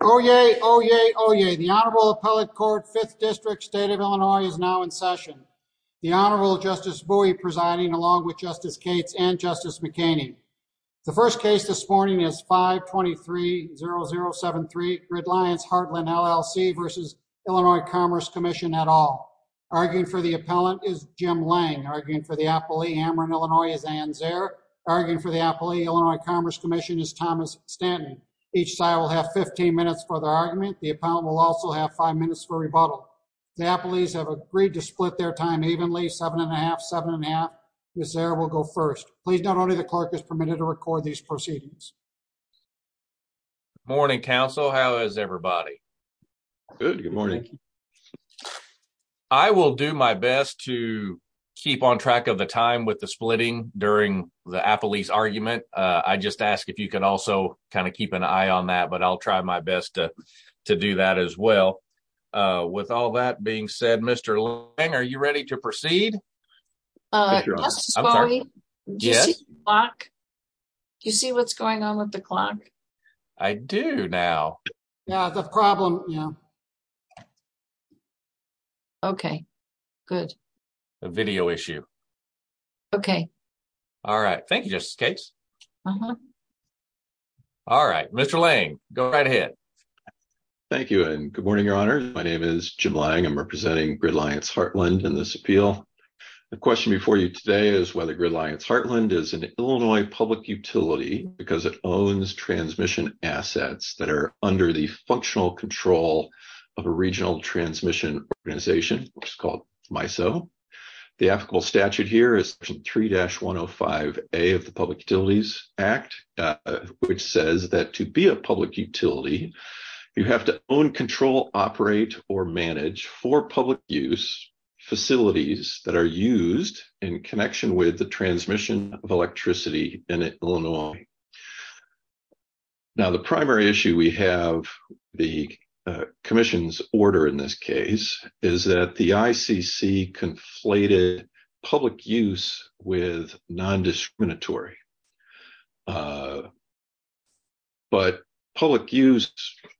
Oyez, oyez, oyez. The Honorable Appellate Court, 5th District, State of Illinois, is now in session. The Honorable Justice Bowie presiding, along with Justice Cates and Justice McKinney. The first case this morning is 5-23-0073, GridLiance Heartland LLC v. Illinois Commerce Comm'n et al. Arguing for the appellant is Jim Lang. Arguing for the appellee, Amron, Illinois, is Anne Zare. Arguing for the appellee, Illinois Commerce Comm'n, is Thomas Stanton. Each side will have 15 minutes for their argument. The appellant will also have 5 minutes for rebuttal. The appellees have agreed to split their time evenly, 7 1⁄2, 7 1⁄2. Ms. Zare will go first. Please note only the clerk is permitted to record these proceedings. Good morning, counsel. How is everybody? Good. Good morning. I will do my best to keep on track of the time with the splitting during the appellee's argument. I just ask if you can also kind of keep an eye on that, but I'll try my best to do that as well. With all that being said, Mr. Lang, are you ready to proceed? Justice Bowie, do you see the clock? Do you see what's going on with the clock? I do now. Yeah, it's a problem. Okay, good. A video issue. Okay. All right. Thank you, Justice Cates. Uh-huh. All right. Mr. Lang, go right ahead. Thank you, and good morning, Your Honor. My name is Jim Lang. I'm representing Gridlions Heartland in this appeal. The question before you today is whether Gridlions Heartland is an Illinois public utility because it owns transmission assets that are under the functional control of a regional transmission organization, which is called MISO. The applicable statute here is Section 3-105A of the Public Utilities Act, which says that to be a public utility, you have to own, control, operate, or manage four public use facilities that are used in connection with the transmission of electricity in Illinois. Now, the primary issue we have, the commission's order in this case, is that the ICC conflated public use with nondiscriminatory. But public use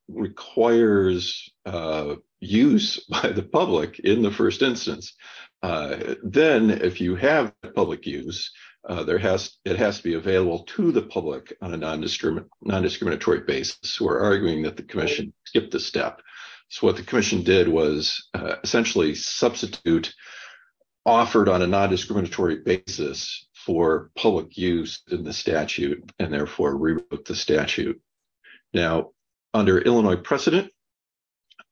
requires use by the public in the first instance. Then if you have public use, it has to be available to the public on a nondiscriminatory basis. We're arguing that the commission skipped a step. So what the commission did was essentially substitute offered on a nondiscriminatory basis for public use in the statute, and therefore rewrote the statute. Now, under Illinois precedent,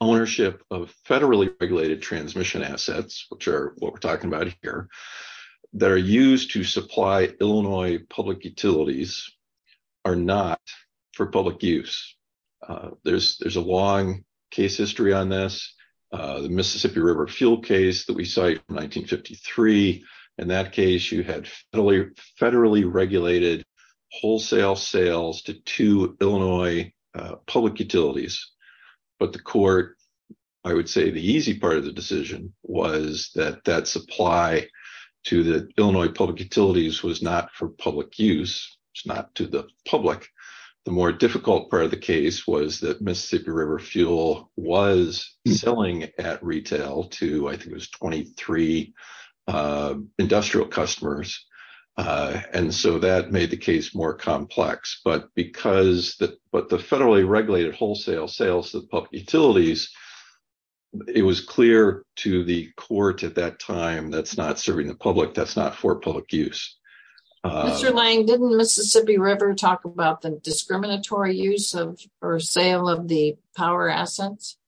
ownership of federally regulated transmission assets, which are what we're talking about here, that are used to supply Illinois public utilities are not for public use. There's a long case history on this. The Mississippi River fuel case that we cite from 1953, in that case, you had federally regulated wholesale sales to two Illinois public utilities. But the court, I would say the easy part of the decision was that that supply to the Illinois public utilities was not for public use. It's not to the public. The more difficult part of the case was that Mississippi River fuel was selling at retail to, I think it was 23 industrial customers. And so that made the case more complex. But because the federally regulated wholesale sales to the public utilities, it was clear to the court at that time, that's not serving the public, that's not for public use. Mr. Lang, didn't Mississippi River talk about the discriminatory use or sale of the power assets?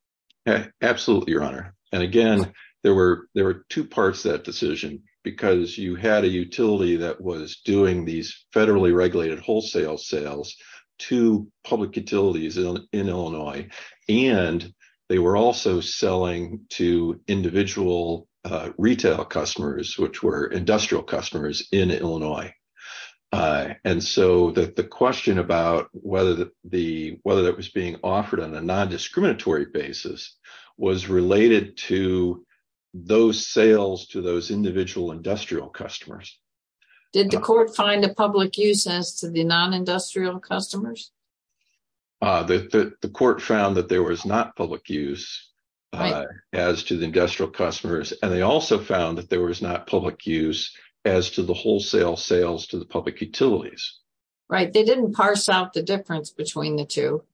Absolutely, Your Honor. And again, there were two parts to that decision, because you had a utility that was doing these federally regulated wholesale sales to public utilities in Illinois. And they were also selling to individual retail customers, which were industrial customers in Illinois. And so that the question about whether that was being offered on a non-discriminatory basis was related to those sales to those individual industrial customers. Did the court find a public use as to the non-industrial customers? The court found that there was not public use as to the industrial customers. And they also found that there was not public use as to the wholesale sales to the public utilities. Right, they didn't parse out the difference between the two.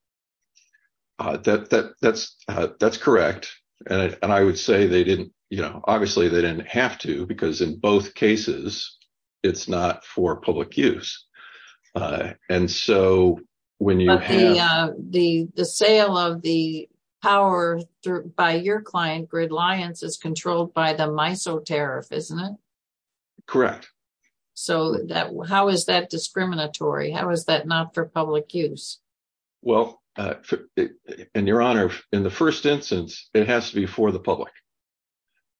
That's correct. And I would say they didn't, you know, obviously they didn't have to, because in both cases, it's not for public use. But the sale of the power by your client, Gridlions, is controlled by the MISO tariff, isn't it? Correct. So how is that discriminatory? How is that not for public use? Well, and Your Honor, in the first instance, it has to be for the public.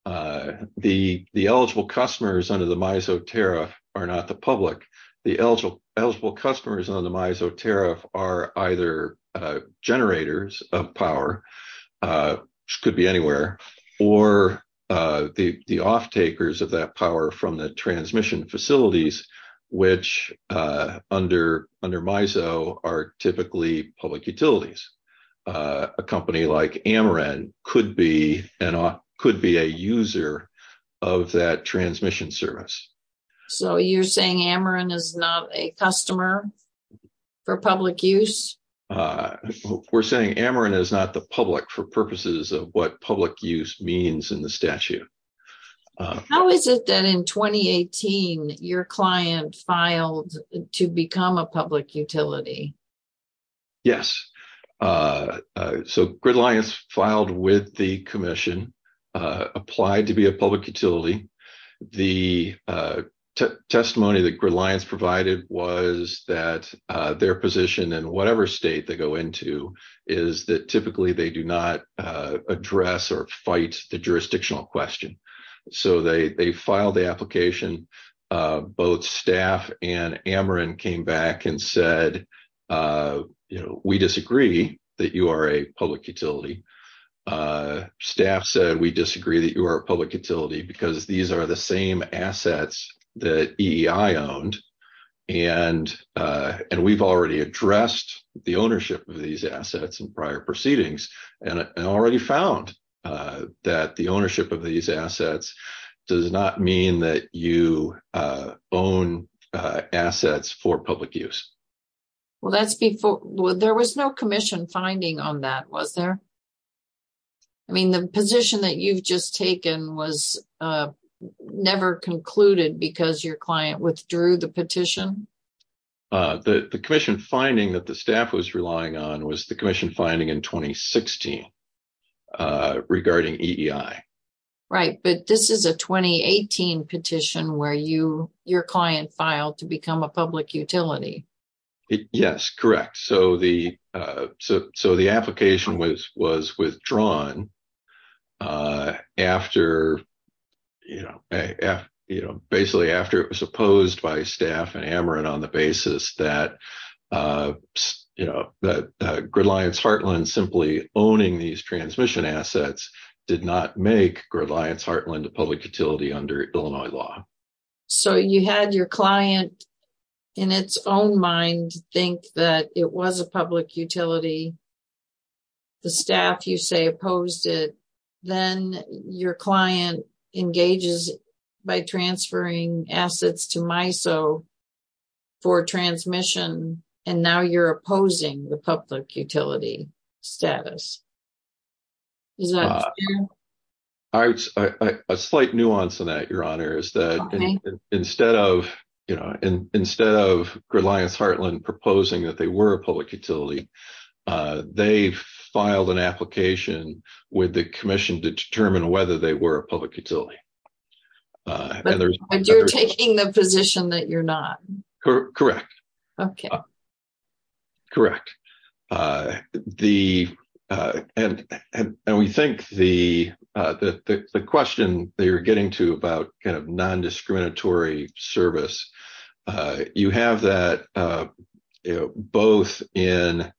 The eligible customers under the MISO tariff are not the public. The eligible customers under the MISO tariff are either generators of power, which could be anywhere, or the offtakers of that power from the transmission facilities, which under MISO are typically public utilities. A company like Ameren could be a user of that transmission service. So you're saying Ameren is not a customer for public use? We're saying Ameren is not the public for purposes of what public use means in the statute. How is it that in 2018, your client filed to become a public utility? Yes. So Gridlions filed with the commission, applied to be a public utility. The testimony that Gridlions provided was that their position in whatever state they go into is that typically they do not address or fight the jurisdictional question. So they filed the application. Both staff and Ameren came back and said, you know, we disagree that you are a public utility. Staff said we disagree that you are a public utility because these are the same assets that EEI owned. And we've already addressed the ownership of these assets in prior proceedings and already found that the ownership of these assets does not mean that you own assets for public use. Well, there was no commission finding on that, was there? I mean, the position that you've just taken was never concluded because your client withdrew the petition? The commission finding that the staff was relying on was the commission finding in 2016 regarding EEI. Right, but this is a 2018 petition where your client filed to become a public utility. Yes, correct. So the application was withdrawn after, you know, basically after it was opposed by staff and Ameren on the basis that, you know, that Gridlions Heartland simply owning these transmission assets did not make Gridlions Heartland a public utility under Illinois law. So you had your client in its own mind think that it was a public utility. The staff, you say, opposed it. Then your client engages by transferring assets to MISO for transmission. And now you're opposing the public utility status. Is that true? A slight nuance in that, Your Honor, is that instead of, you know, instead of Gridlions Heartland proposing that they were a public utility, they filed an application with the commission to determine whether they were a public utility. And you're taking the position that you're not? Correct. Okay. Correct. And we think the question that you're getting to about kind of non-discriminatory service, you have that both in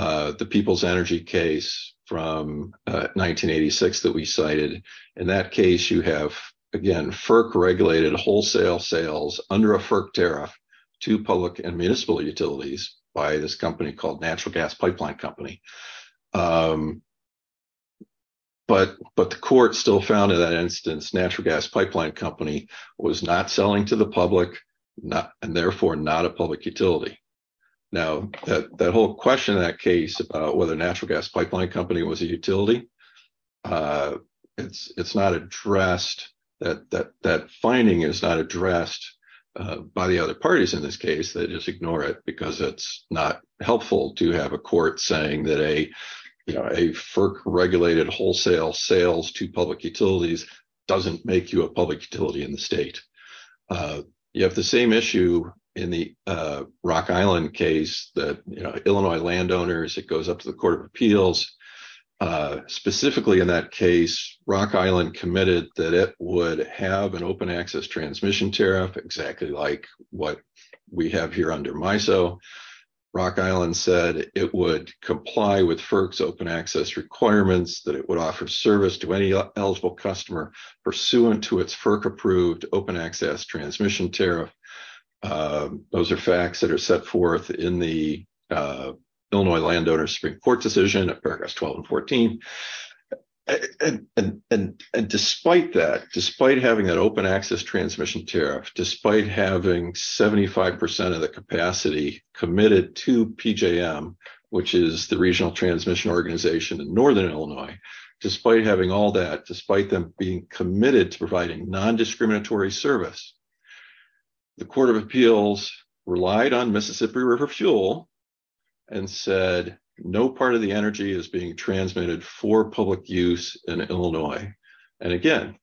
the People's Energy case from 1986 that we cited. In that case, you have, again, FERC-regulated wholesale sales under a FERC tariff to public and municipal utilities by this company called Natural Gas Pipeline Company. But the court still found in that instance Natural Gas Pipeline Company was not selling to the public and therefore not a public utility. Now, that whole question in that case about whether Natural Gas Pipeline Company was a utility, it's not addressed, that finding is not addressed by the other parties in this case. They just ignore it because it's not helpful to have a court saying that a, you know, a FERC-regulated wholesale sales to public utilities doesn't make you a public utility in the state. You have the same issue in the Rock Island case that, you know, Illinois landowners, it goes up to the Court of Appeals. Specifically in that case, Rock Island committed that it would have an open access transmission tariff exactly like what we have here under MISO. Rock Island said it would comply with FERC's open access requirements, that it would offer service to any eligible customer pursuant to its FERC-approved open access transmission tariff. Those are facts that are set forth in the Illinois Landowners Supreme Court decision at paragraphs 12 and 14. And despite that, despite having that open access transmission tariff, despite having 75% of the capacity committed to PJM, which is the Regional Transmission Organization in northern Illinois, despite having all that, despite them being committed to providing nondiscriminatory service, the Court of Appeals relied on Mississippi River fuel and said no part of the energy is being transmitted for public use in Illinois. And again,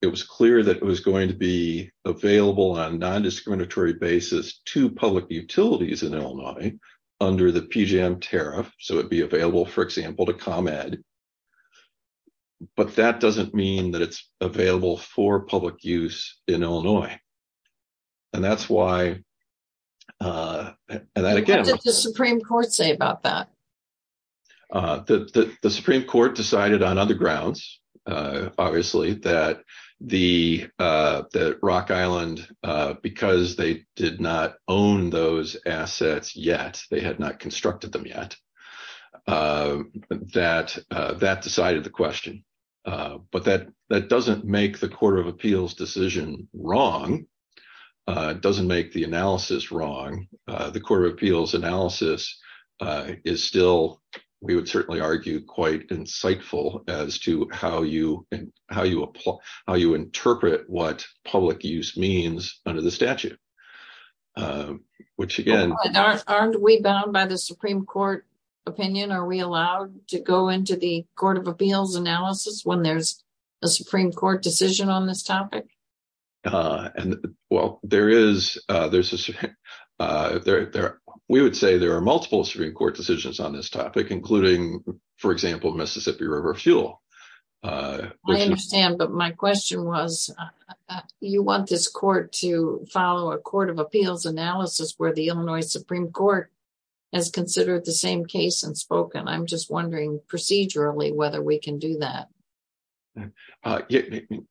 it was clear that it was going to be available on a nondiscriminatory basis to public utilities in Illinois under the PJM tariff. So it would be available, for example, to ComEd, but that doesn't mean that it's available for public use in Illinois. And that's why... What did the Supreme Court say about that? The Supreme Court decided on other grounds, obviously, that Rock Island, because they did not own those assets yet, they had not constructed them yet, that that decided the question. But that doesn't make the Court of Appeals decision wrong. It doesn't make the analysis wrong. The Court of Appeals analysis is still, we would certainly argue, quite insightful as to how you interpret what public use means under the statute, which again... Aren't we bound by the Supreme Court opinion? Are we allowed to go into the Court of Appeals analysis when there's a Supreme Court decision on this topic? Well, there is... We would say there are multiple Supreme Court decisions on this topic, including, for example, Mississippi River fuel. I understand, but my question was, you want this Court to follow a Court of Appeals analysis where the Illinois Supreme Court has considered the same case and spoken. I'm just wondering procedurally whether we can do that.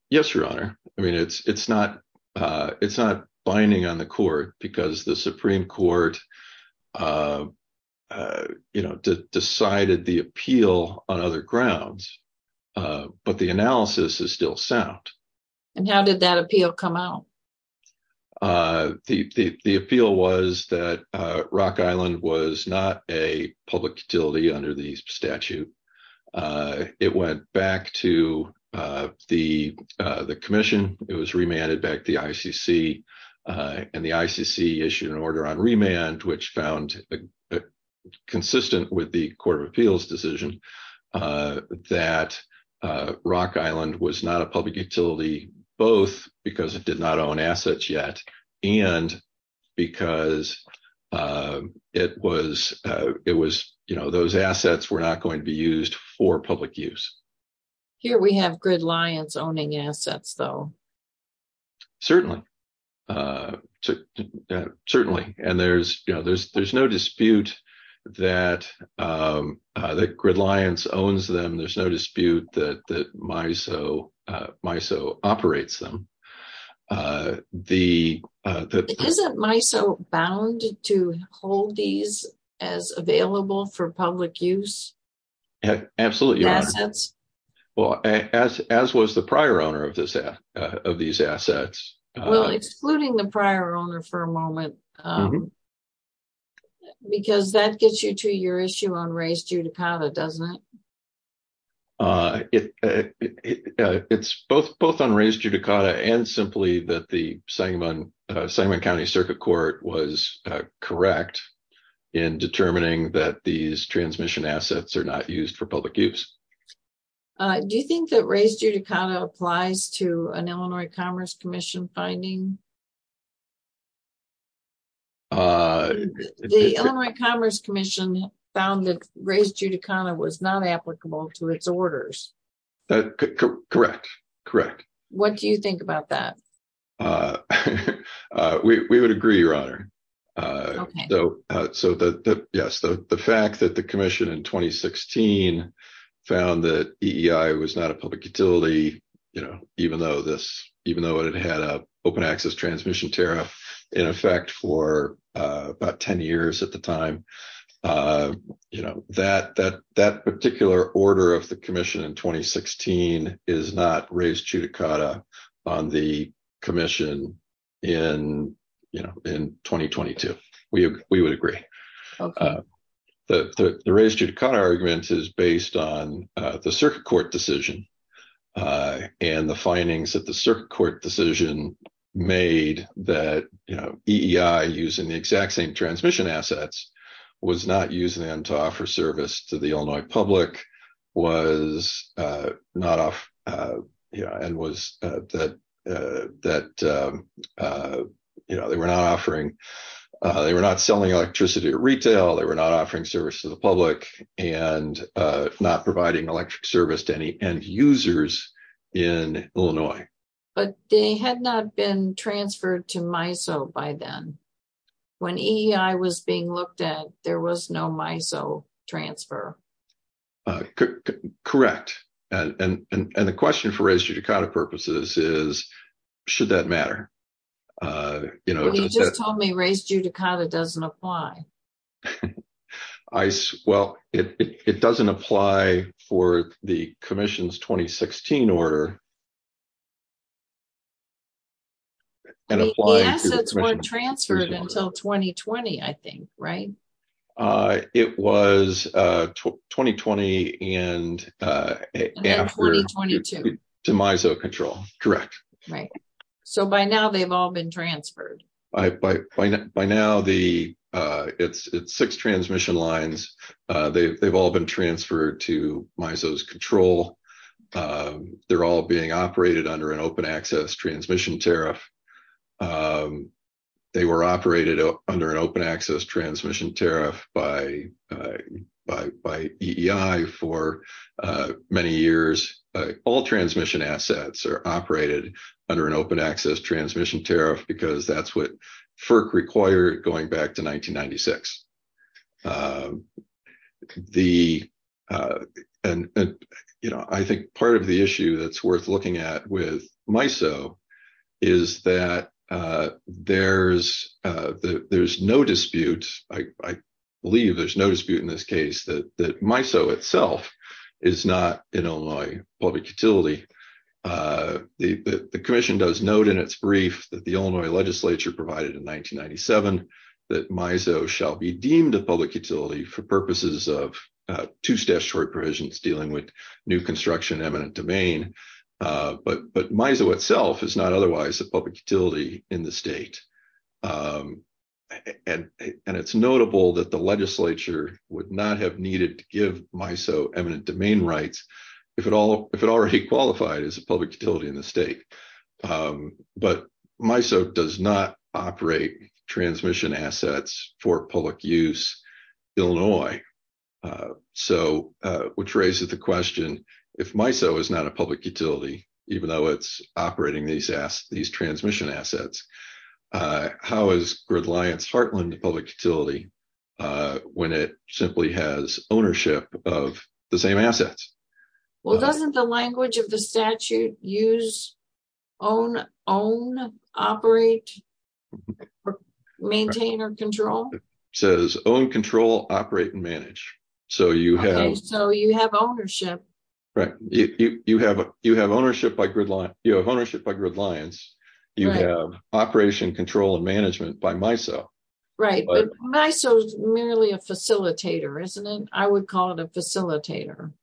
Yes, Your Honor. I mean, it's not binding on the Court because the Supreme Court decided the appeal on other grounds, but the analysis is still sound. And how did that appeal come out? The appeal was that Rock Island was not a public utility under the statute. It went back to the Commission. It was remanded back to the ICC, and the ICC issued an order on remand, which found consistent with the Court of Appeals decision that Rock Island was not a public utility, both because it did not own assets yet, and because those assets were not going to be used for public use. Here we have Gridlions owning assets, though. Certainly. And there's no dispute that Gridlions owns them. There's no dispute that MISO operates them. Isn't MISO bound to hold these as available for public use? Absolutely, Your Honor. Well, as was the prior owner of these assets. Well, excluding the prior owner for a moment, because that gets you to your issue on Ray's Judicata, doesn't it? It's both on Ray's Judicata and simply that the Sangamon County Circuit Court was correct in determining that these transmission assets are not used for public use. Do you think that Ray's Judicata applies to an Illinois Commerce Commission finding? The Illinois Commerce Commission found that Ray's Judicata was not applicable to its orders. Correct. Correct. What do you think about that? We would agree, Your Honor. So, yes, the fact that the commission in 2016 found that EEI was not a public utility, you know, even though it had an open access transmission tariff in effect for about 10 years at the time, you know, that particular order of the commission in 2016 is not Ray's Judicata on the commission in, you know, in 2022. We would agree. The Ray's Judicata argument is based on the circuit court decision and the findings that the circuit court decision made that, you know, EEI using the exact same transmission assets was not using them to offer service to the Illinois public was not off and was that that, you know, they were not offering they were not selling electricity at retail. They were not offering service to the public and not providing electric service to any end users in Illinois. But they had not been transferred to MISO by then. When EEI was being looked at, there was no MISO transfer. Correct. And the question for Ray's Judicata purposes is, should that matter? You know, you just told me Ray's Judicata doesn't apply. Well, it doesn't apply for the commission's 2016 order. The assets weren't transferred until 2020, I think, right? It was 2020 and after 2022 to MISO control. Correct. Right. So by now, they've all been transferred. By now, it's six transmission lines. They've all been transferred to MISO's control. They're all being operated under an open access transmission tariff. They were operated under an open access transmission tariff by EEI for many years. All transmission assets are operated under an open access transmission tariff because that's what FERC required going back to 1996. I think part of the issue that's worth looking at with MISO is that there's no dispute. I believe there's no dispute in this case that MISO itself is not an Illinois public utility. The commission does note in its brief that the Illinois legislature provided in 1997 that MISO shall be deemed a public utility for purposes of two statutory provisions dealing with new construction eminent domain. But MISO itself is not otherwise a public utility in the state. And it's notable that the legislature would not have needed to give MISO eminent domain rights if it already qualified as a public utility in the state. But MISO does not operate transmission assets for public use in Illinois. Which raises the question, if MISO is not a public utility, even though it's operating these transmission assets, how is gridlines heartland public utility when it simply has ownership of the same assets? Well, doesn't the language of the statute use own, own, operate, maintain or control? It says own, control, operate and manage. So you have ownership. Right. You have ownership by gridlines. You have ownership by gridlines. You have operation, control and management by MISO. Right. But MISO is merely a facilitator, isn't it? I would call it a facilitator.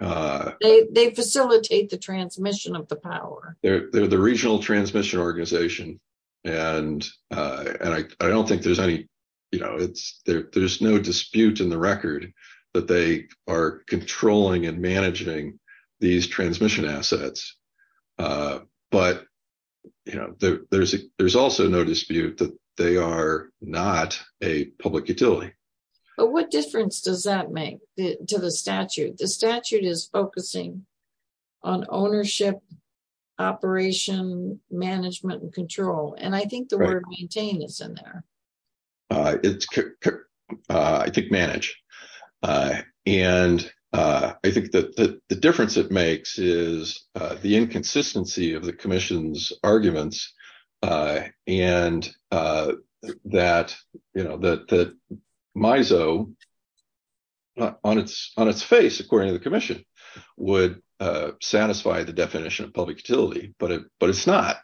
They facilitate the transmission of the power. They're the regional transmission organization. And I don't think there's any you know, it's there's no dispute in the record that they are controlling and managing these transmission assets. But, you know, there's there's also no dispute that they are not a public utility. But what difference does that make to the statute? The statute is focusing on ownership, operation, management and control. And I think the word maintain is in there. I think manage. And I think that the difference it makes is the inconsistency of the commission's arguments. And that, you know, that MISO on its on its face, according to the commission, would satisfy the definition of public utility. But but it's not.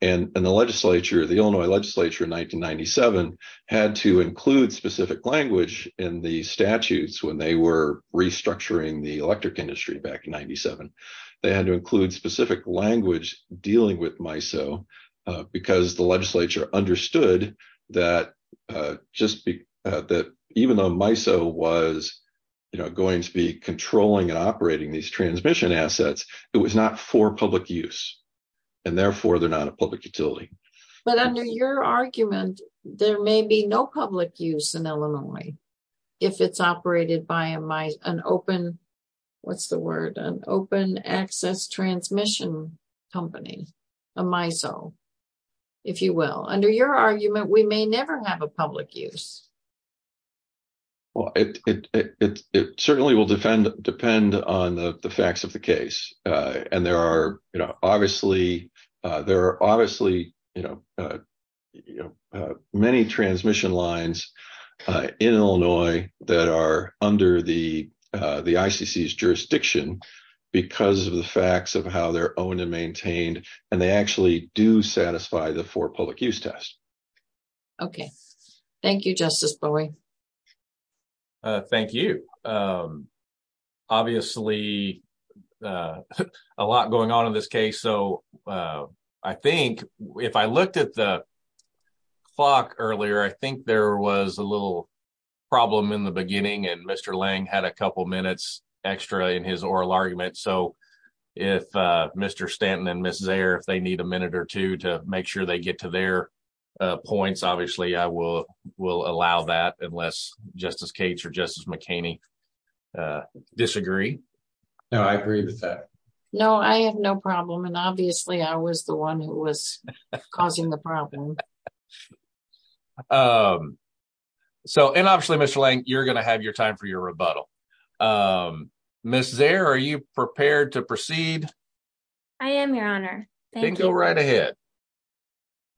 And the legislature, the Illinois legislature in 1997, had to include specific language in the statutes when they were restructuring the electric industry back in 97. They had to include specific language dealing with MISO because the legislature understood that just that even though MISO was going to be controlling and operating these transmission assets, it was not for public use and therefore they're not a public utility. But under your argument, there may be no public use in Illinois if it's operated by an open, what's the word, an open access transmission company, a MISO, if you will. Under your argument, we may never have a public use. Well, it certainly will defend depend on the facts of the case. And there are obviously there are obviously, you know, many transmission lines in Illinois that are under the the ICC's jurisdiction because of the facts of how they're owned and maintained. And they actually do satisfy the for public use test. OK, thank you, Justice Brewer. Thank you. Obviously, a lot going on in this case. So I think if I looked at the clock earlier, I think there was a little problem in the beginning. And Mr. Lang had a couple of minutes extra in his oral argument. So if Mr. Stanton and Mrs. Zare, if they need a minute or two to make sure they get to their points, obviously, I will will allow that unless Justice Cates or Justice McKinney disagree. No, I agree with that. No, I have no problem. And obviously, I was the one who was causing the problem. So and obviously, Mr. Lang, you're going to have your time for your rebuttal. Mrs. Zare, are you prepared to proceed? I am, Your Honor. Thank you. Go right ahead.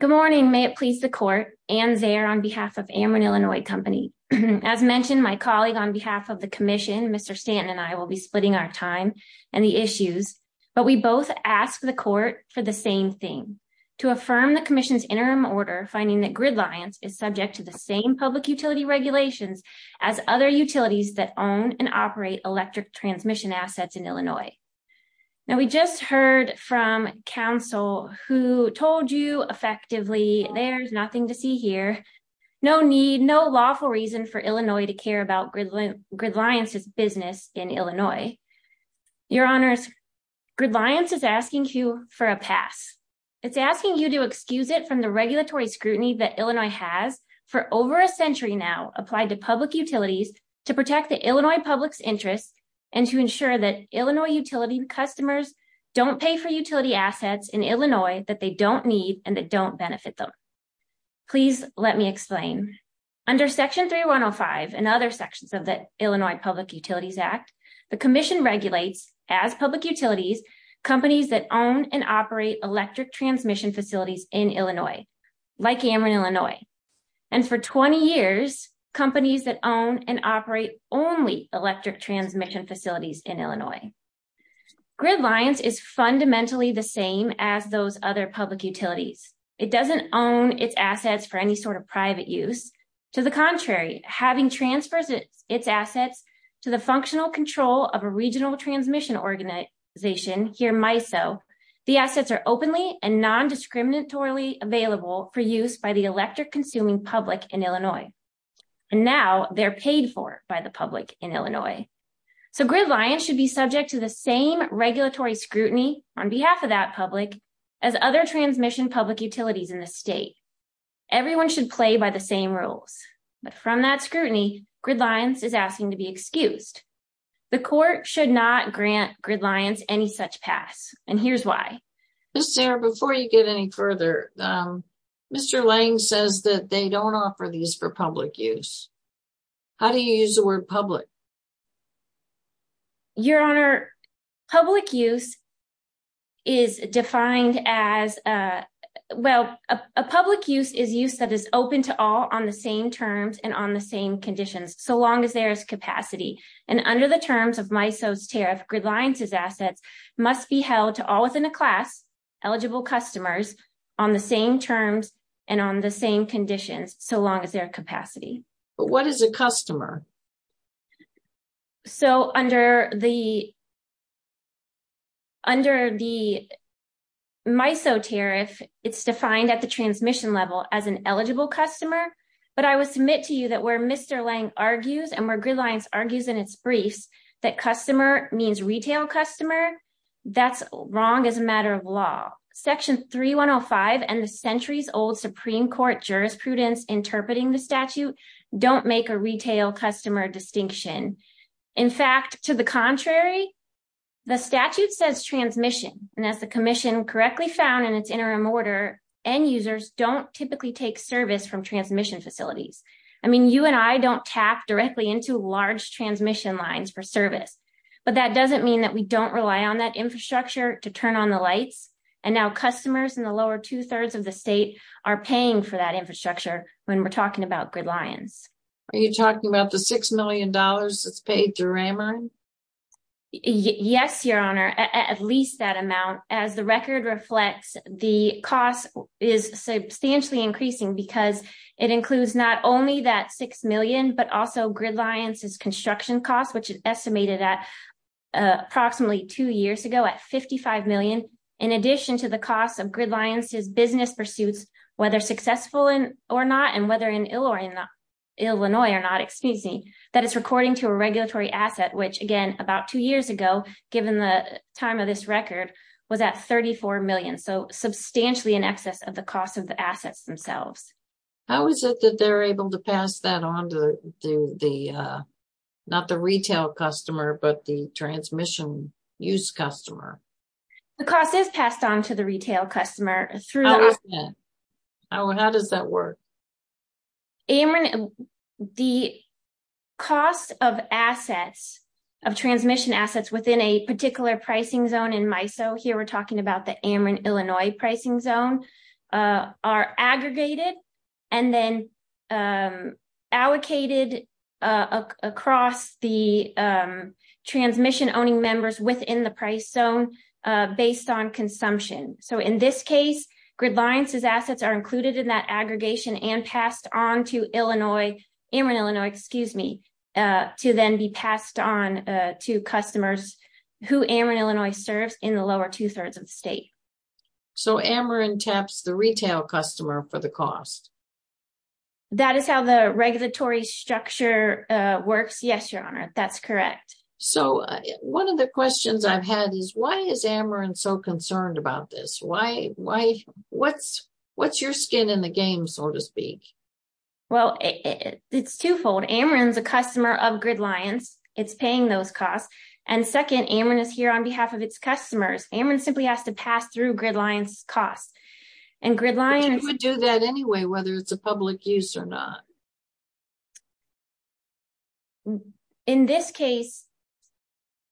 Good morning. May it please the court. And there on behalf of Ammon, Illinois Company, as mentioned, my colleague on behalf of the commission, Mr. Stanton and I will be splitting our time and the issues. But we both asked the court for the same thing, to affirm the commission's interim order, finding that Gridlions is subject to the same public utility regulations as other utilities that own and operate electric transmission assets in Illinois. Now, we just heard from counsel who told you effectively, there's nothing to see here. No need, no lawful reason for Illinois to care about Gridlions' business in Illinois. Your Honor, Gridlions is asking you for a pass. It's asking you to excuse it from the regulatory scrutiny that Illinois has for over a century now applied to public utilities to protect the Illinois public's interest and to ensure that Illinois utility customers don't pay for utility assets in Illinois that they don't need and that don't benefit them. Please let me explain. Under Section 3105 and other sections of the Illinois Public Utilities Act, the commission regulates as public utilities, companies that own and operate electric transmission facilities in Illinois, like Ammon, Illinois. And for 20 years, companies that own and operate only electric transmission facilities in Illinois. Gridlions is fundamentally the same as those other public utilities. It doesn't own its assets for any sort of private use. To the contrary, having transfers its assets to the functional control of a regional transmission organization, here MISO, the assets are openly and non-discriminatorily available for use by the electric consuming public in Illinois. And now they're paid for by the public in Illinois. So Gridlions should be subject to the same regulatory scrutiny on behalf of that public as other transmission public utilities in the state. Everyone should play by the same rules. But from that scrutiny, Gridlions is asking to be excused. The court should not grant Gridlions any such pass. And here's why. Sarah, before you get any further, Mr. Lang says that they don't offer these for public use. How do you use the word public? Your Honor, public use is defined as, well, a public use is use that is open to all on the same terms and on the same conditions, so long as there is capacity. And under the terms of MISO's tariff, Gridlions' assets must be held to all within a class, eligible customers, on the same terms and on the same conditions, so long as there is capacity. But what is a customer? So under the MISO tariff, it's defined at the transmission level as an eligible customer. But I would submit to you that where Mr. Lang argues and where Gridlions argues in its briefs that customer means retail customer, that's wrong as a matter of law. Section 3105 and the centuries-old Supreme Court jurisprudence interpreting the statute don't make a retail customer distinction. In fact, to the contrary, the statute says transmission. And as the commission correctly found in its interim order, end users don't typically take service from transmission facilities. I mean, you and I don't tap directly into large transmission lines for service. But that doesn't mean that we don't rely on that infrastructure to turn on the lights. And now customers in the lower two-thirds of the state are paying for that infrastructure when we're talking about Gridlions. Are you talking about the $6 million that's paid through Ramon? Yes, Your Honor, at least that amount. As the record reflects, the cost is substantially increasing because it includes not only that $6 million, but also Gridlions' construction costs, which is estimated at approximately two years ago at $55 million. In addition to the cost of Gridlions' business pursuits, whether successful or not, and whether in Illinois or not, that is according to a regulatory asset, which again, about two years ago, given the time of this record, was at $34 million. So substantially in excess of the cost of the assets themselves. How is it that they're able to pass that on to the, not the retail customer, but the transmission use customer? The cost is passed on to the retail customer. How is that? How does that work? Amron, the cost of assets, of transmission assets within a particular pricing zone in MISO, here we're talking about the Amron, Illinois pricing zone, are aggregated and then allocated across the transmission owning members within the price zone based on consumption. So in this case, Gridlions' assets are included in that aggregation and passed on to Illinois, Amron, Illinois, excuse me, to then be passed on to customers who Amron, Illinois serves in the lower two-thirds of the state. So Amron taps the retail customer for the cost? That is how the regulatory structure works. Yes, Your Honor, that's correct. So one of the questions I've had is why is Amron so concerned about this? What's your skin in the game, so to speak? Well, it's twofold. Amron's a customer of Gridlions. It's paying those costs. And second, Amron is here on behalf of its customers. Amron simply has to pass through Gridlions' costs. But you would do that anyway, whether it's a public use or not. In this case,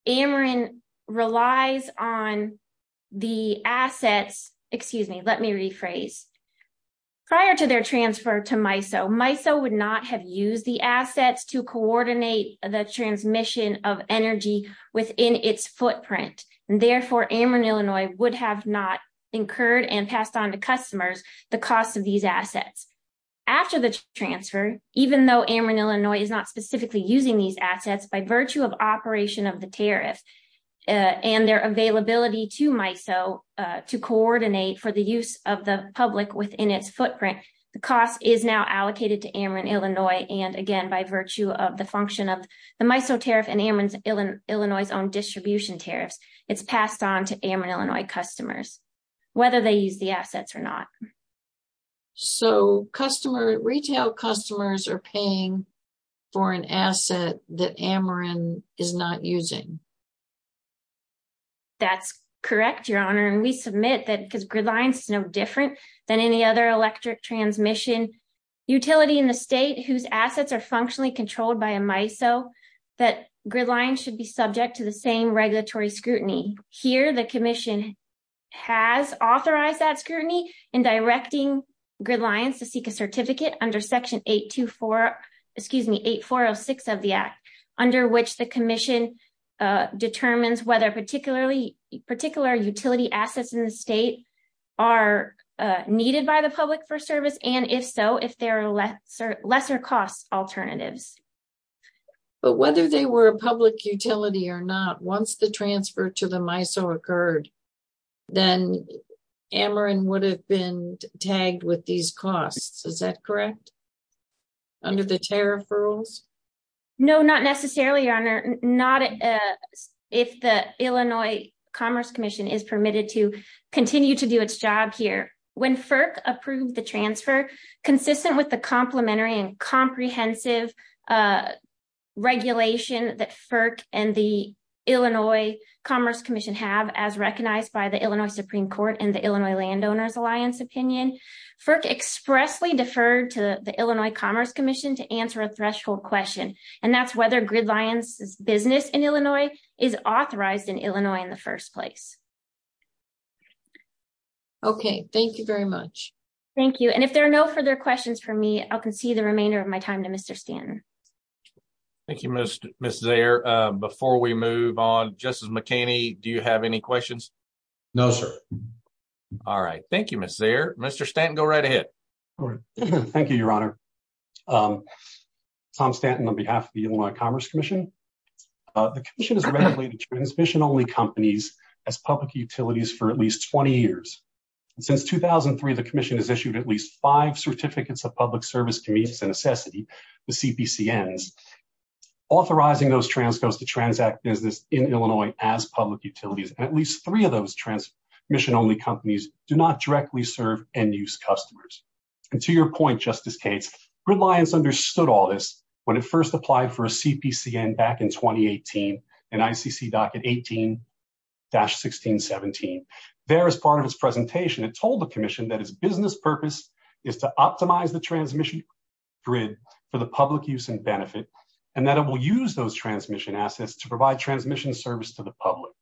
Amron relies on the assets, excuse me, let me rephrase. Prior to their transfer to MISO, MISO would not have used the assets to coordinate the transmission of energy within its footprint. And therefore, Amron, Illinois would have not incurred and passed on to customers the cost of these assets. After the transfer, even though Amron, Illinois is not specifically using these assets, by virtue of operation of the tariff and their availability to MISO to coordinate for the use of the public within its footprint, the cost is now allocated to Amron, Illinois. And again, by virtue of the function of the MISO tariff and Amron, Illinois' own distribution tariffs, it's passed on to Amron, Illinois customers, whether they use the assets or not. So retail customers are paying for an asset that Amron is not using. That's correct, Your Honor. And we submit that because Gridlions is no different than any other electric transmission utility in the state, whose assets are functionally controlled by a MISO, that Gridlions should be subject to the same regulatory scrutiny. Here, the commission has authorized that scrutiny in directing Gridlions to seek a certificate under Section 8406 of the Act, under which the commission determines whether particular utility assets in the state are needed by the public for service, and if so, if there are lesser cost alternatives. But whether they were a public utility or not, once the transfer to the MISO occurred, then Amron would have been tagged with these costs, is that correct? Under the tariff rules? No, not necessarily, Your Honor. Not if the Illinois Commerce Commission is permitted to continue to do its job here. When FERC approved the transfer, consistent with the complementary and comprehensive regulation that FERC and the Illinois Commerce Commission have, as recognized by the Illinois Supreme Court and the Illinois Landowners Alliance opinion, FERC expressly deferred to the Illinois Commerce Commission to answer a threshold question, and that's whether Gridlions' business in Illinois is authorized in Illinois in the first place. Okay. Thank you very much. Thank you. And if there are no further questions for me, I'll concede the remainder of my time to Mr. Stanton. Thank you, Ms. Zayer. Before we move on, Justice McKinney, do you have any questions? No, sir. All right. Thank you, Ms. Zayer. Mr. Stanton, go right ahead. Thank you, Your Honor. Tom Stanton on behalf of the Illinois Commerce Commission. The commission has regulated transmission-only companies as public utilities for at least 20 years. Since 2003, the commission has issued at least five certificates of public service to meet its necessity, the CPCNs, authorizing those transcos to transact business in Illinois as public utilities. At least three of those transmission-only companies do not directly serve end-use customers. And to your point, Justice Cates, Gridlions understood all this when it first applied for a CPCN back in 2018 in ICC Docket 18-1617. There, as part of its presentation, it told the commission that its business purpose is to optimize the transmission grid for the public use and benefit, and that it will use those transmission assets to provide transmission service to the public,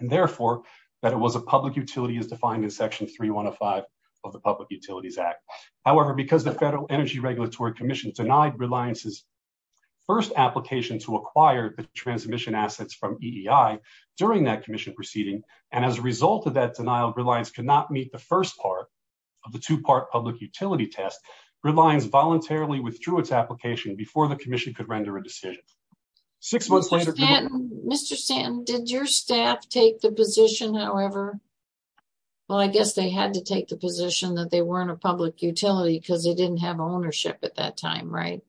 and therefore that it was a public utility as defined in Section 3105 of the Public Utilities Act. However, because the Federal Energy Regulatory Commission denied Gridlions' first application to acquire the transmission assets from EEI during that commission proceeding, and as a result of that denial, Gridlions could not meet the first part of the two-part public utility test, Gridlions voluntarily withdrew its application before the commission could render a decision. Mr. Stanton, did your staff take the position, however? Well, I guess they had to take the position that they weren't a public utility because they didn't have ownership at that time, right?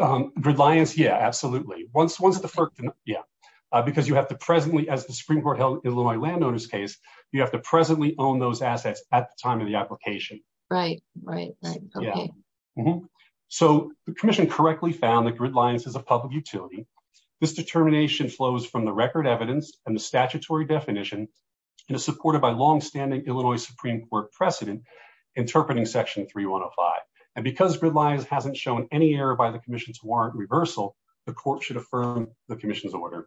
Gridlions, yeah, absolutely. Because you have to presently, as the Supreme Court held in my landowner's case, you have to presently own those assets at the time of the application. Right, right. So the commission correctly found that Gridlions is a public utility. This determination flows from the record evidence and the statutory definition, and is supported by longstanding Illinois Supreme Court precedent interpreting Section 3105. And because Gridlions hasn't shown any error by the commission's warrant reversal, the court should affirm the commission's order.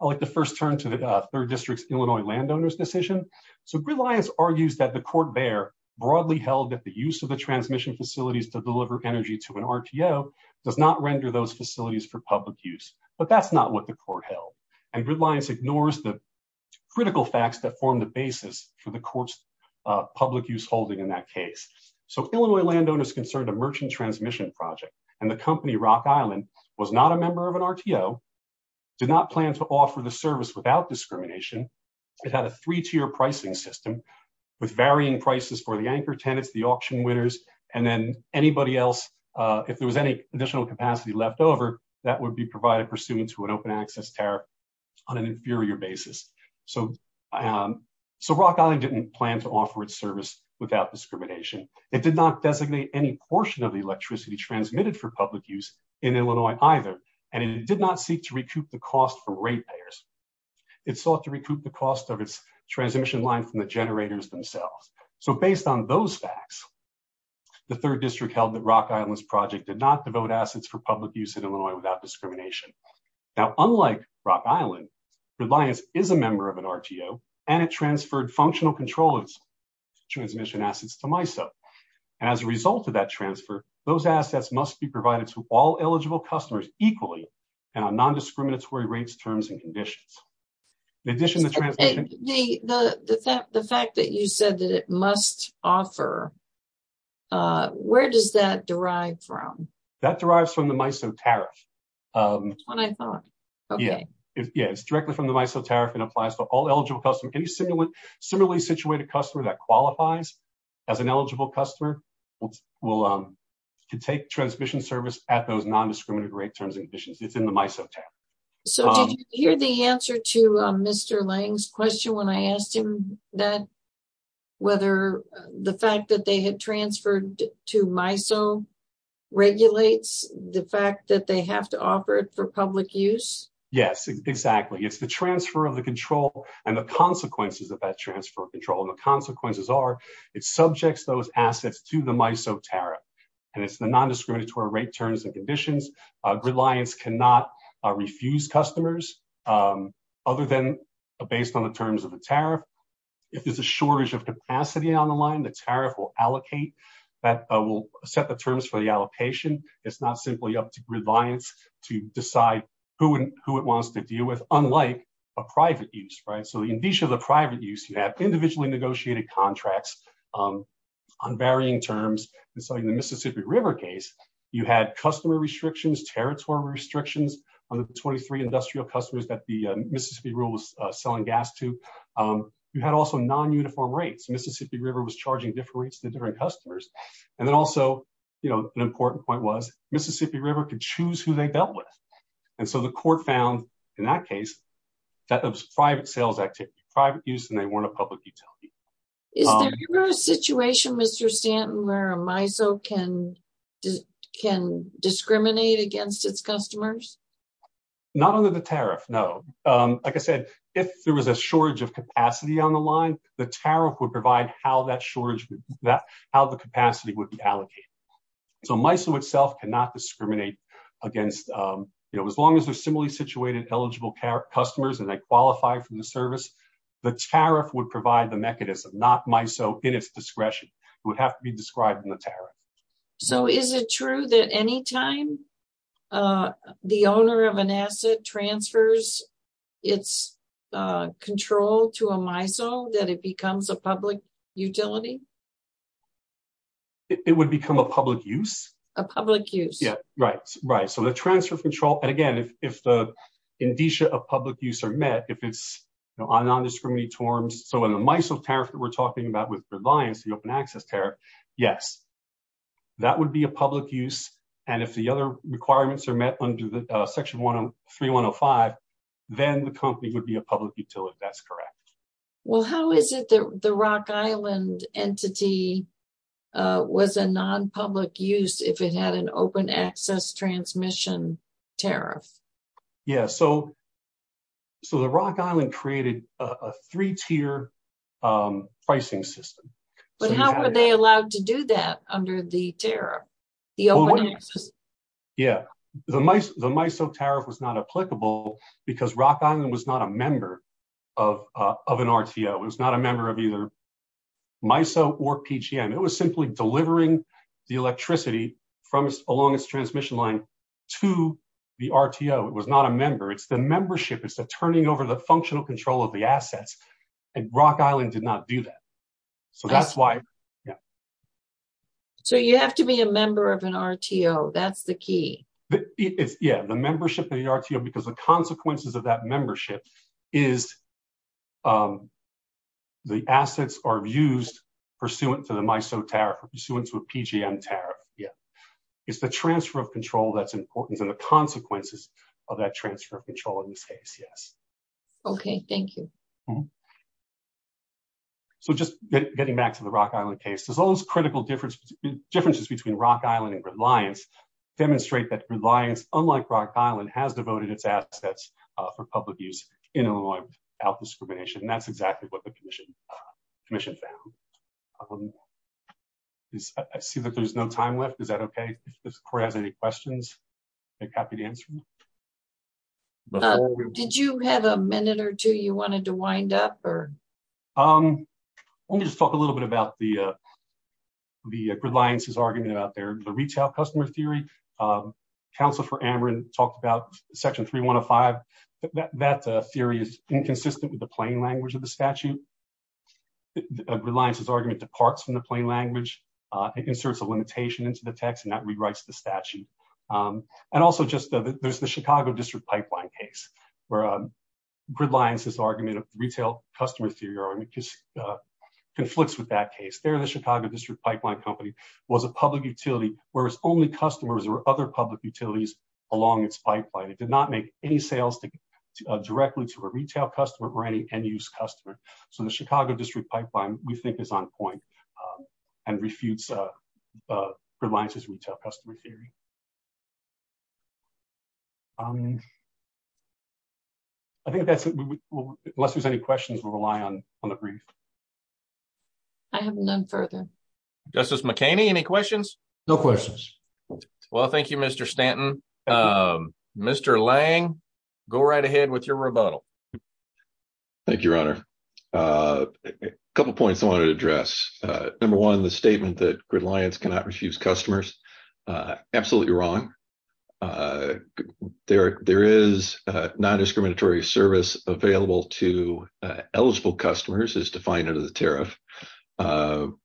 I'd like to first turn to the Third District's Illinois landowner's decision. So Gridlions argues that the court there broadly held that the use of the transmission facilities to deliver energy to an RTO does not render those facilities for public use. But that's not what the court held. And Gridlions ignores the critical facts that form the basis for the court's public use holding in that case. So Illinois landowners concerned a merchant transmission project, and the company Rock Island was not a member of an RTO, did not plan to offer the service without discrimination. It had a three-tier pricing system with varying prices for the anchor tenants, the auction winners, and then anybody else. If there was any additional capacity left over, that would be provided pursuant to an open access tariff on an inferior basis. So Rock Island didn't plan to offer its service without discrimination. It did not designate any portion of the electricity transmitted for public use in Illinois either, and it did not seek to recoup the cost from rate payers. It sought to recoup the cost of its transmission line from the generators themselves. So based on those facts, the third district held that Rock Island's project did not devote assets for public use in Illinois without discrimination. Now, unlike Rock Island, Gridlions is a member of an RTO, and it transferred functional control of its transmission assets to MISO. And as a result of that transfer, those assets must be provided to all eligible customers equally and on non-discriminatory rates, terms, and conditions. In addition to transmission... The fact that you said that it must offer, where does that derive from? That derives from the MISO tariff. That's what I thought. Okay. Yeah, it's directly from the MISO tariff and applies to all eligible customers. Any similarly situated customer that qualifies as an eligible customer can take transmission service at those non-discriminatory rates, terms, and conditions. It's in the MISO tariff. So did you hear the answer to Mr. Lange's question when I asked him whether the fact that they had transferred to MISO regulates the fact that they have to offer it for public use? Yes, exactly. It's the transfer of the control and the consequences of that transfer of control. And the consequences are it subjects those assets to the MISO tariff, and it's the non-discriminatory rate, terms, and conditions. Gridlions cannot refuse customers other than based on the terms of the tariff. If there's a shortage of capacity on the line, the tariff will allocate. That will set the terms for the allocation. It's not simply up to gridlions to decide who it wants to deal with, unlike a private use. So in addition to the private use, you have individually negotiated contracts on varying terms. And so in the Mississippi River case, you had customer restrictions, territorial restrictions on the 23 industrial customers that the Mississippi Rule was selling gas to. You had also non-uniform rates. Mississippi River was charging different rates to different customers. And then also, you know, an important point was Mississippi River could choose who they dealt with. And so the court found, in that case, that there was private sales activity, private use, and they weren't a public utility. Is there a situation, Mr. Stanton, where a MISO can discriminate against its customers? Not under the tariff, no. Like I said, if there was a shortage of capacity on the line, the tariff would provide how that shortage, how the capacity would be allocated. So MISO itself cannot discriminate against, you know, as long as they're similarly situated eligible customers and they qualify for the service, the tariff would provide the mechanism, not MISO in its discretion. It would have to be described in the tariff. So is it true that any time the owner of an asset transfers its control to a MISO that it becomes a public utility? It would become a public use. A public use. Yeah, right, right. So the transfer of control, and again, if the indicia of public use are met, if it's on non-discriminatory terms. So in the MISO tariff that we're talking about with Reliance, the open access tariff, yes, that would be a public use. And if the other requirements are met under Section 3105, then the company would be a public utility, if that's correct. Well, how is it that the Rock Island entity was a non-public use if it had an open access transmission tariff? Yeah, so the Rock Island created a three-tier pricing system. But how were they allowed to do that under the tariff? Yeah, the MISO tariff was not applicable because Rock Island was not a member of an RTO. It was not a member of either MISO or PGM. It was simply delivering the electricity along its transmission line to the RTO. It was not a member. It's the membership. It's the turning over the functional control of the assets. And Rock Island did not do that. So that's why, yeah. So you have to be a member of an RTO. That's the key. Yeah, the membership of the RTO because the consequences of that membership is the assets are used pursuant to the MISO tariff, pursuant to a PGM tariff. Yeah. It's the transfer of control that's important and the consequences of that transfer of control in this case, yes. Okay, thank you. So just getting back to the Rock Island case, those critical differences between Rock Island and Reliance demonstrate that Reliance, unlike Rock Island, has devoted its assets for public use in Illinois without discrimination. And that's exactly what the commission found. I see that there's no time left. Is that okay? If the court has any questions, I'd be happy to answer them. Did you have a minute or two you wanted to wind up? Let me just talk a little bit about the Reliance's argument about their retail customer theory. Counsel for Amron talked about Section 3105. That theory is inconsistent with the plain language of the statute. Reliance's argument departs from the plain language. It inserts a limitation into the text and that rewrites the statute. And also, there's the Chicago District Pipeline case where Reliance's argument of retail customer theory conflicts with that case. There, the Chicago District Pipeline company was a public utility where its only customers were other public utilities along its pipeline. It did not make any sales directly to a retail customer or any end-use customer. So, the Chicago District Pipeline, we think, is on point and refutes Reliance's retail customer theory. I think that's it. Unless there's any questions, we'll rely on the brief. I have none further. Justice McHaney, any questions? No questions. Well, thank you, Mr. Stanton. Mr. Lange, go right ahead with your rebuttal. Thank you, Your Honor. A couple points I wanted to address. Number one, the statement that Reliance cannot refuse customers, absolutely wrong. There is non-discriminatory service available to eligible customers as defined under the tariff,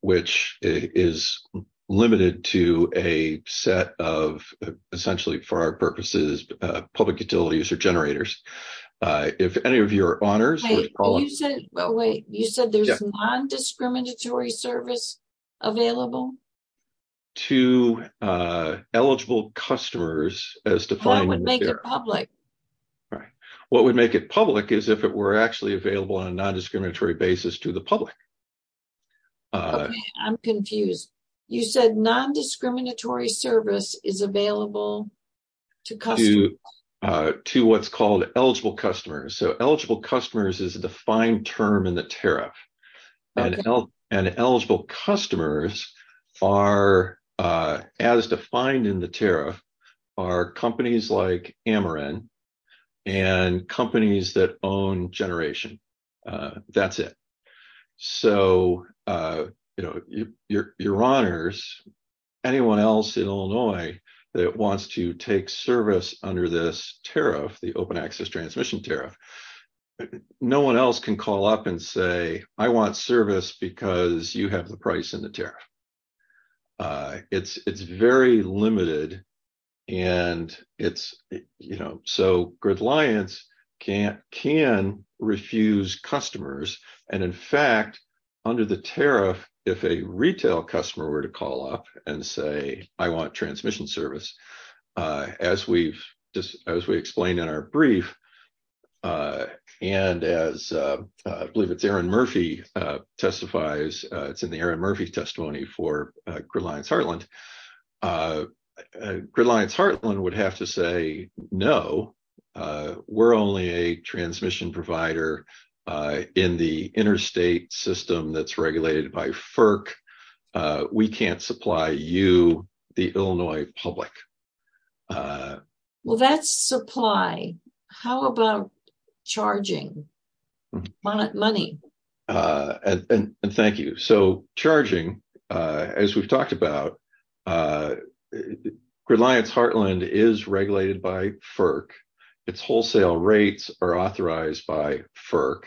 which is limited to a set of, essentially for our purposes, public utilities or generators. If any of your honors were to call in. Wait, you said there's non-discriminatory service available? To eligible customers as defined in the tariff. That would make it public. Right. What would make it public is if it were actually available on a non-discriminatory basis to the public. Okay, I'm confused. You said non-discriminatory service is available to customers. To what's called eligible customers. So eligible customers is a defined term in the tariff. And eligible customers are, as defined in the tariff, are companies like Ameren and companies that own generation. That's it. So, you know, your honors, anyone else in Illinois that wants to take service under this tariff, the open access transmission tariff. No one else can call up and say, I want service because you have the price in the tariff. It's very limited. And it's, you know, so gridliance can't can refuse customers. And in fact, under the tariff, if a retail customer were to call up and say, I want transmission service. As we've just as we explained in our brief, and as I believe it's Aaron Murphy testifies, it's in the Aaron Murphy testimony for Gridliance Heartland. Gridliance Heartland would have to say, no, we're only a transmission provider in the interstate system that's regulated by FERC. We can't supply you, the Illinois public. Well, that's supply. How about charging money? And thank you. So charging, as we've talked about, Gridliance Heartland is regulated by FERC. Its wholesale rates are authorized by FERC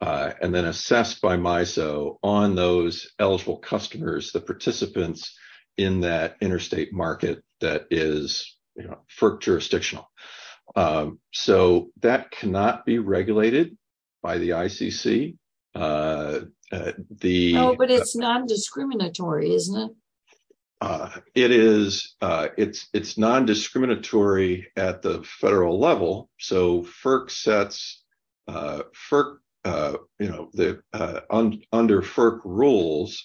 and then assessed by MISO on those eligible customers, the participants in that interstate market that is FERC jurisdictional. So that cannot be regulated by the ICC. Oh, but it's non-discriminatory, isn't it? It is. It's non-discriminatory at the federal level. So FERC sets, you know, under FERC rules,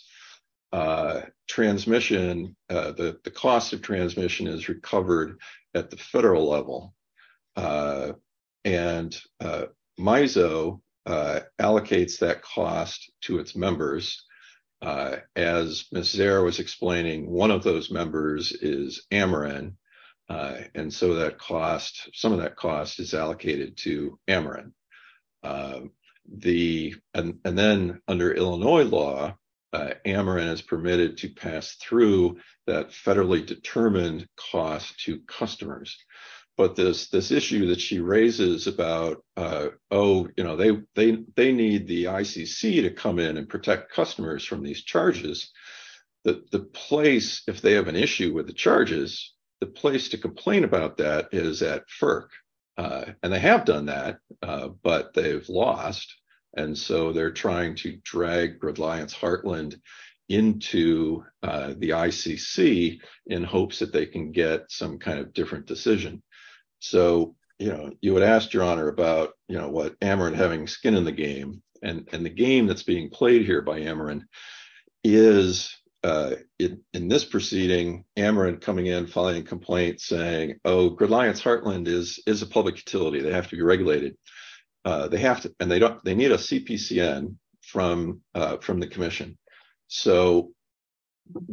transmission, the cost of transmission is recovered at the federal level. And MISO allocates that cost to its members. As Ms. Zare was explaining, one of those members is Ameren. And so that cost, some of that cost is allocated to Ameren. And then under Illinois law, Ameren is permitted to pass through that federally determined cost to customers. But this issue that she raises about, oh, you know, they need the ICC to come in and protect customers from these charges. The place, if they have an issue with the charges, the place to complain about that is at FERC. And they have done that, but they've lost. And so they're trying to drag Gridliance-Heartland into the ICC in hopes that they can get some kind of different decision. So, you know, you would ask, Your Honor, about, you know, what Ameren having skin in the game. And the game that's being played here by Ameren is, in this proceeding, Ameren coming in, filing a complaint, saying, oh, Gridliance-Heartland is a public utility, they have to be regulated. They have to, and they need a CPCN from the commission. So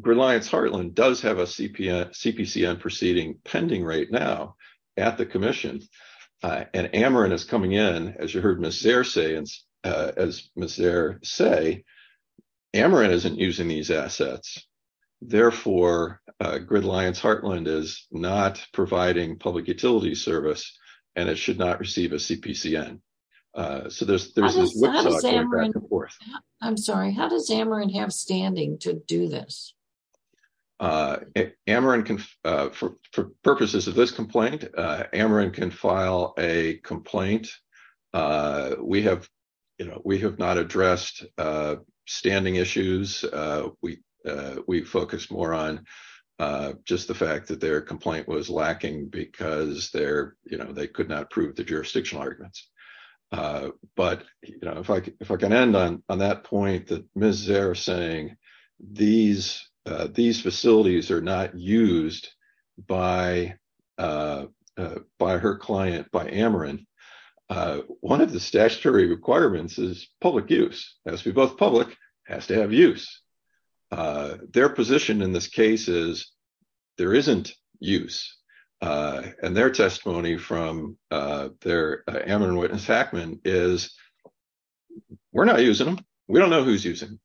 Gridliance-Heartland does have a CPCN proceeding pending right now at the commission. And Ameren is coming in, as you heard Ms. Zare say, Ameren isn't using these assets. Therefore, Gridliance-Heartland is not providing public utility service, and it should not receive a CPCN. So there's this whipsaw going back and forth. I'm sorry, how does Ameren have standing to do this? Ameren can, for purposes of this complaint, Ameren can file a complaint. We have, you know, we have not addressed standing issues. We focused more on just the fact that their complaint was lacking because they're, you know, they could not prove the jurisdictional arguments. But, you know, if I can end on that point that Ms. Zare is saying, these facilities are not used by her client, by Ameren. One of the statutory requirements is public use. It has to be both public, it has to have use. Their position in this case is there isn't use. And their testimony from their Ameren witness hackman is, we're not using them. We don't know who's using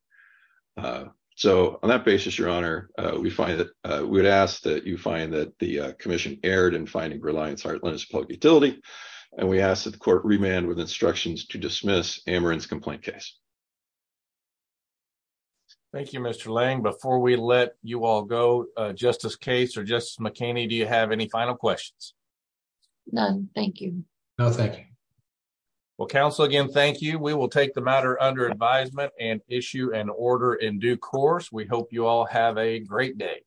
them. So on that basis, your honor, we find that, we would ask that you find that the commission erred in finding Gridliance-Heartland as a public utility. And we ask that the court remand with instructions to dismiss Ameren's complaint case. Thank you, Mr. Lang. Before we let you all go, Justice Case or Justice McKinney, do you have any final questions? None, thank you. No, thank you. Well, counsel, again, thank you. We will take the matter under advisement and issue an order in due course. We hope you all have a great day.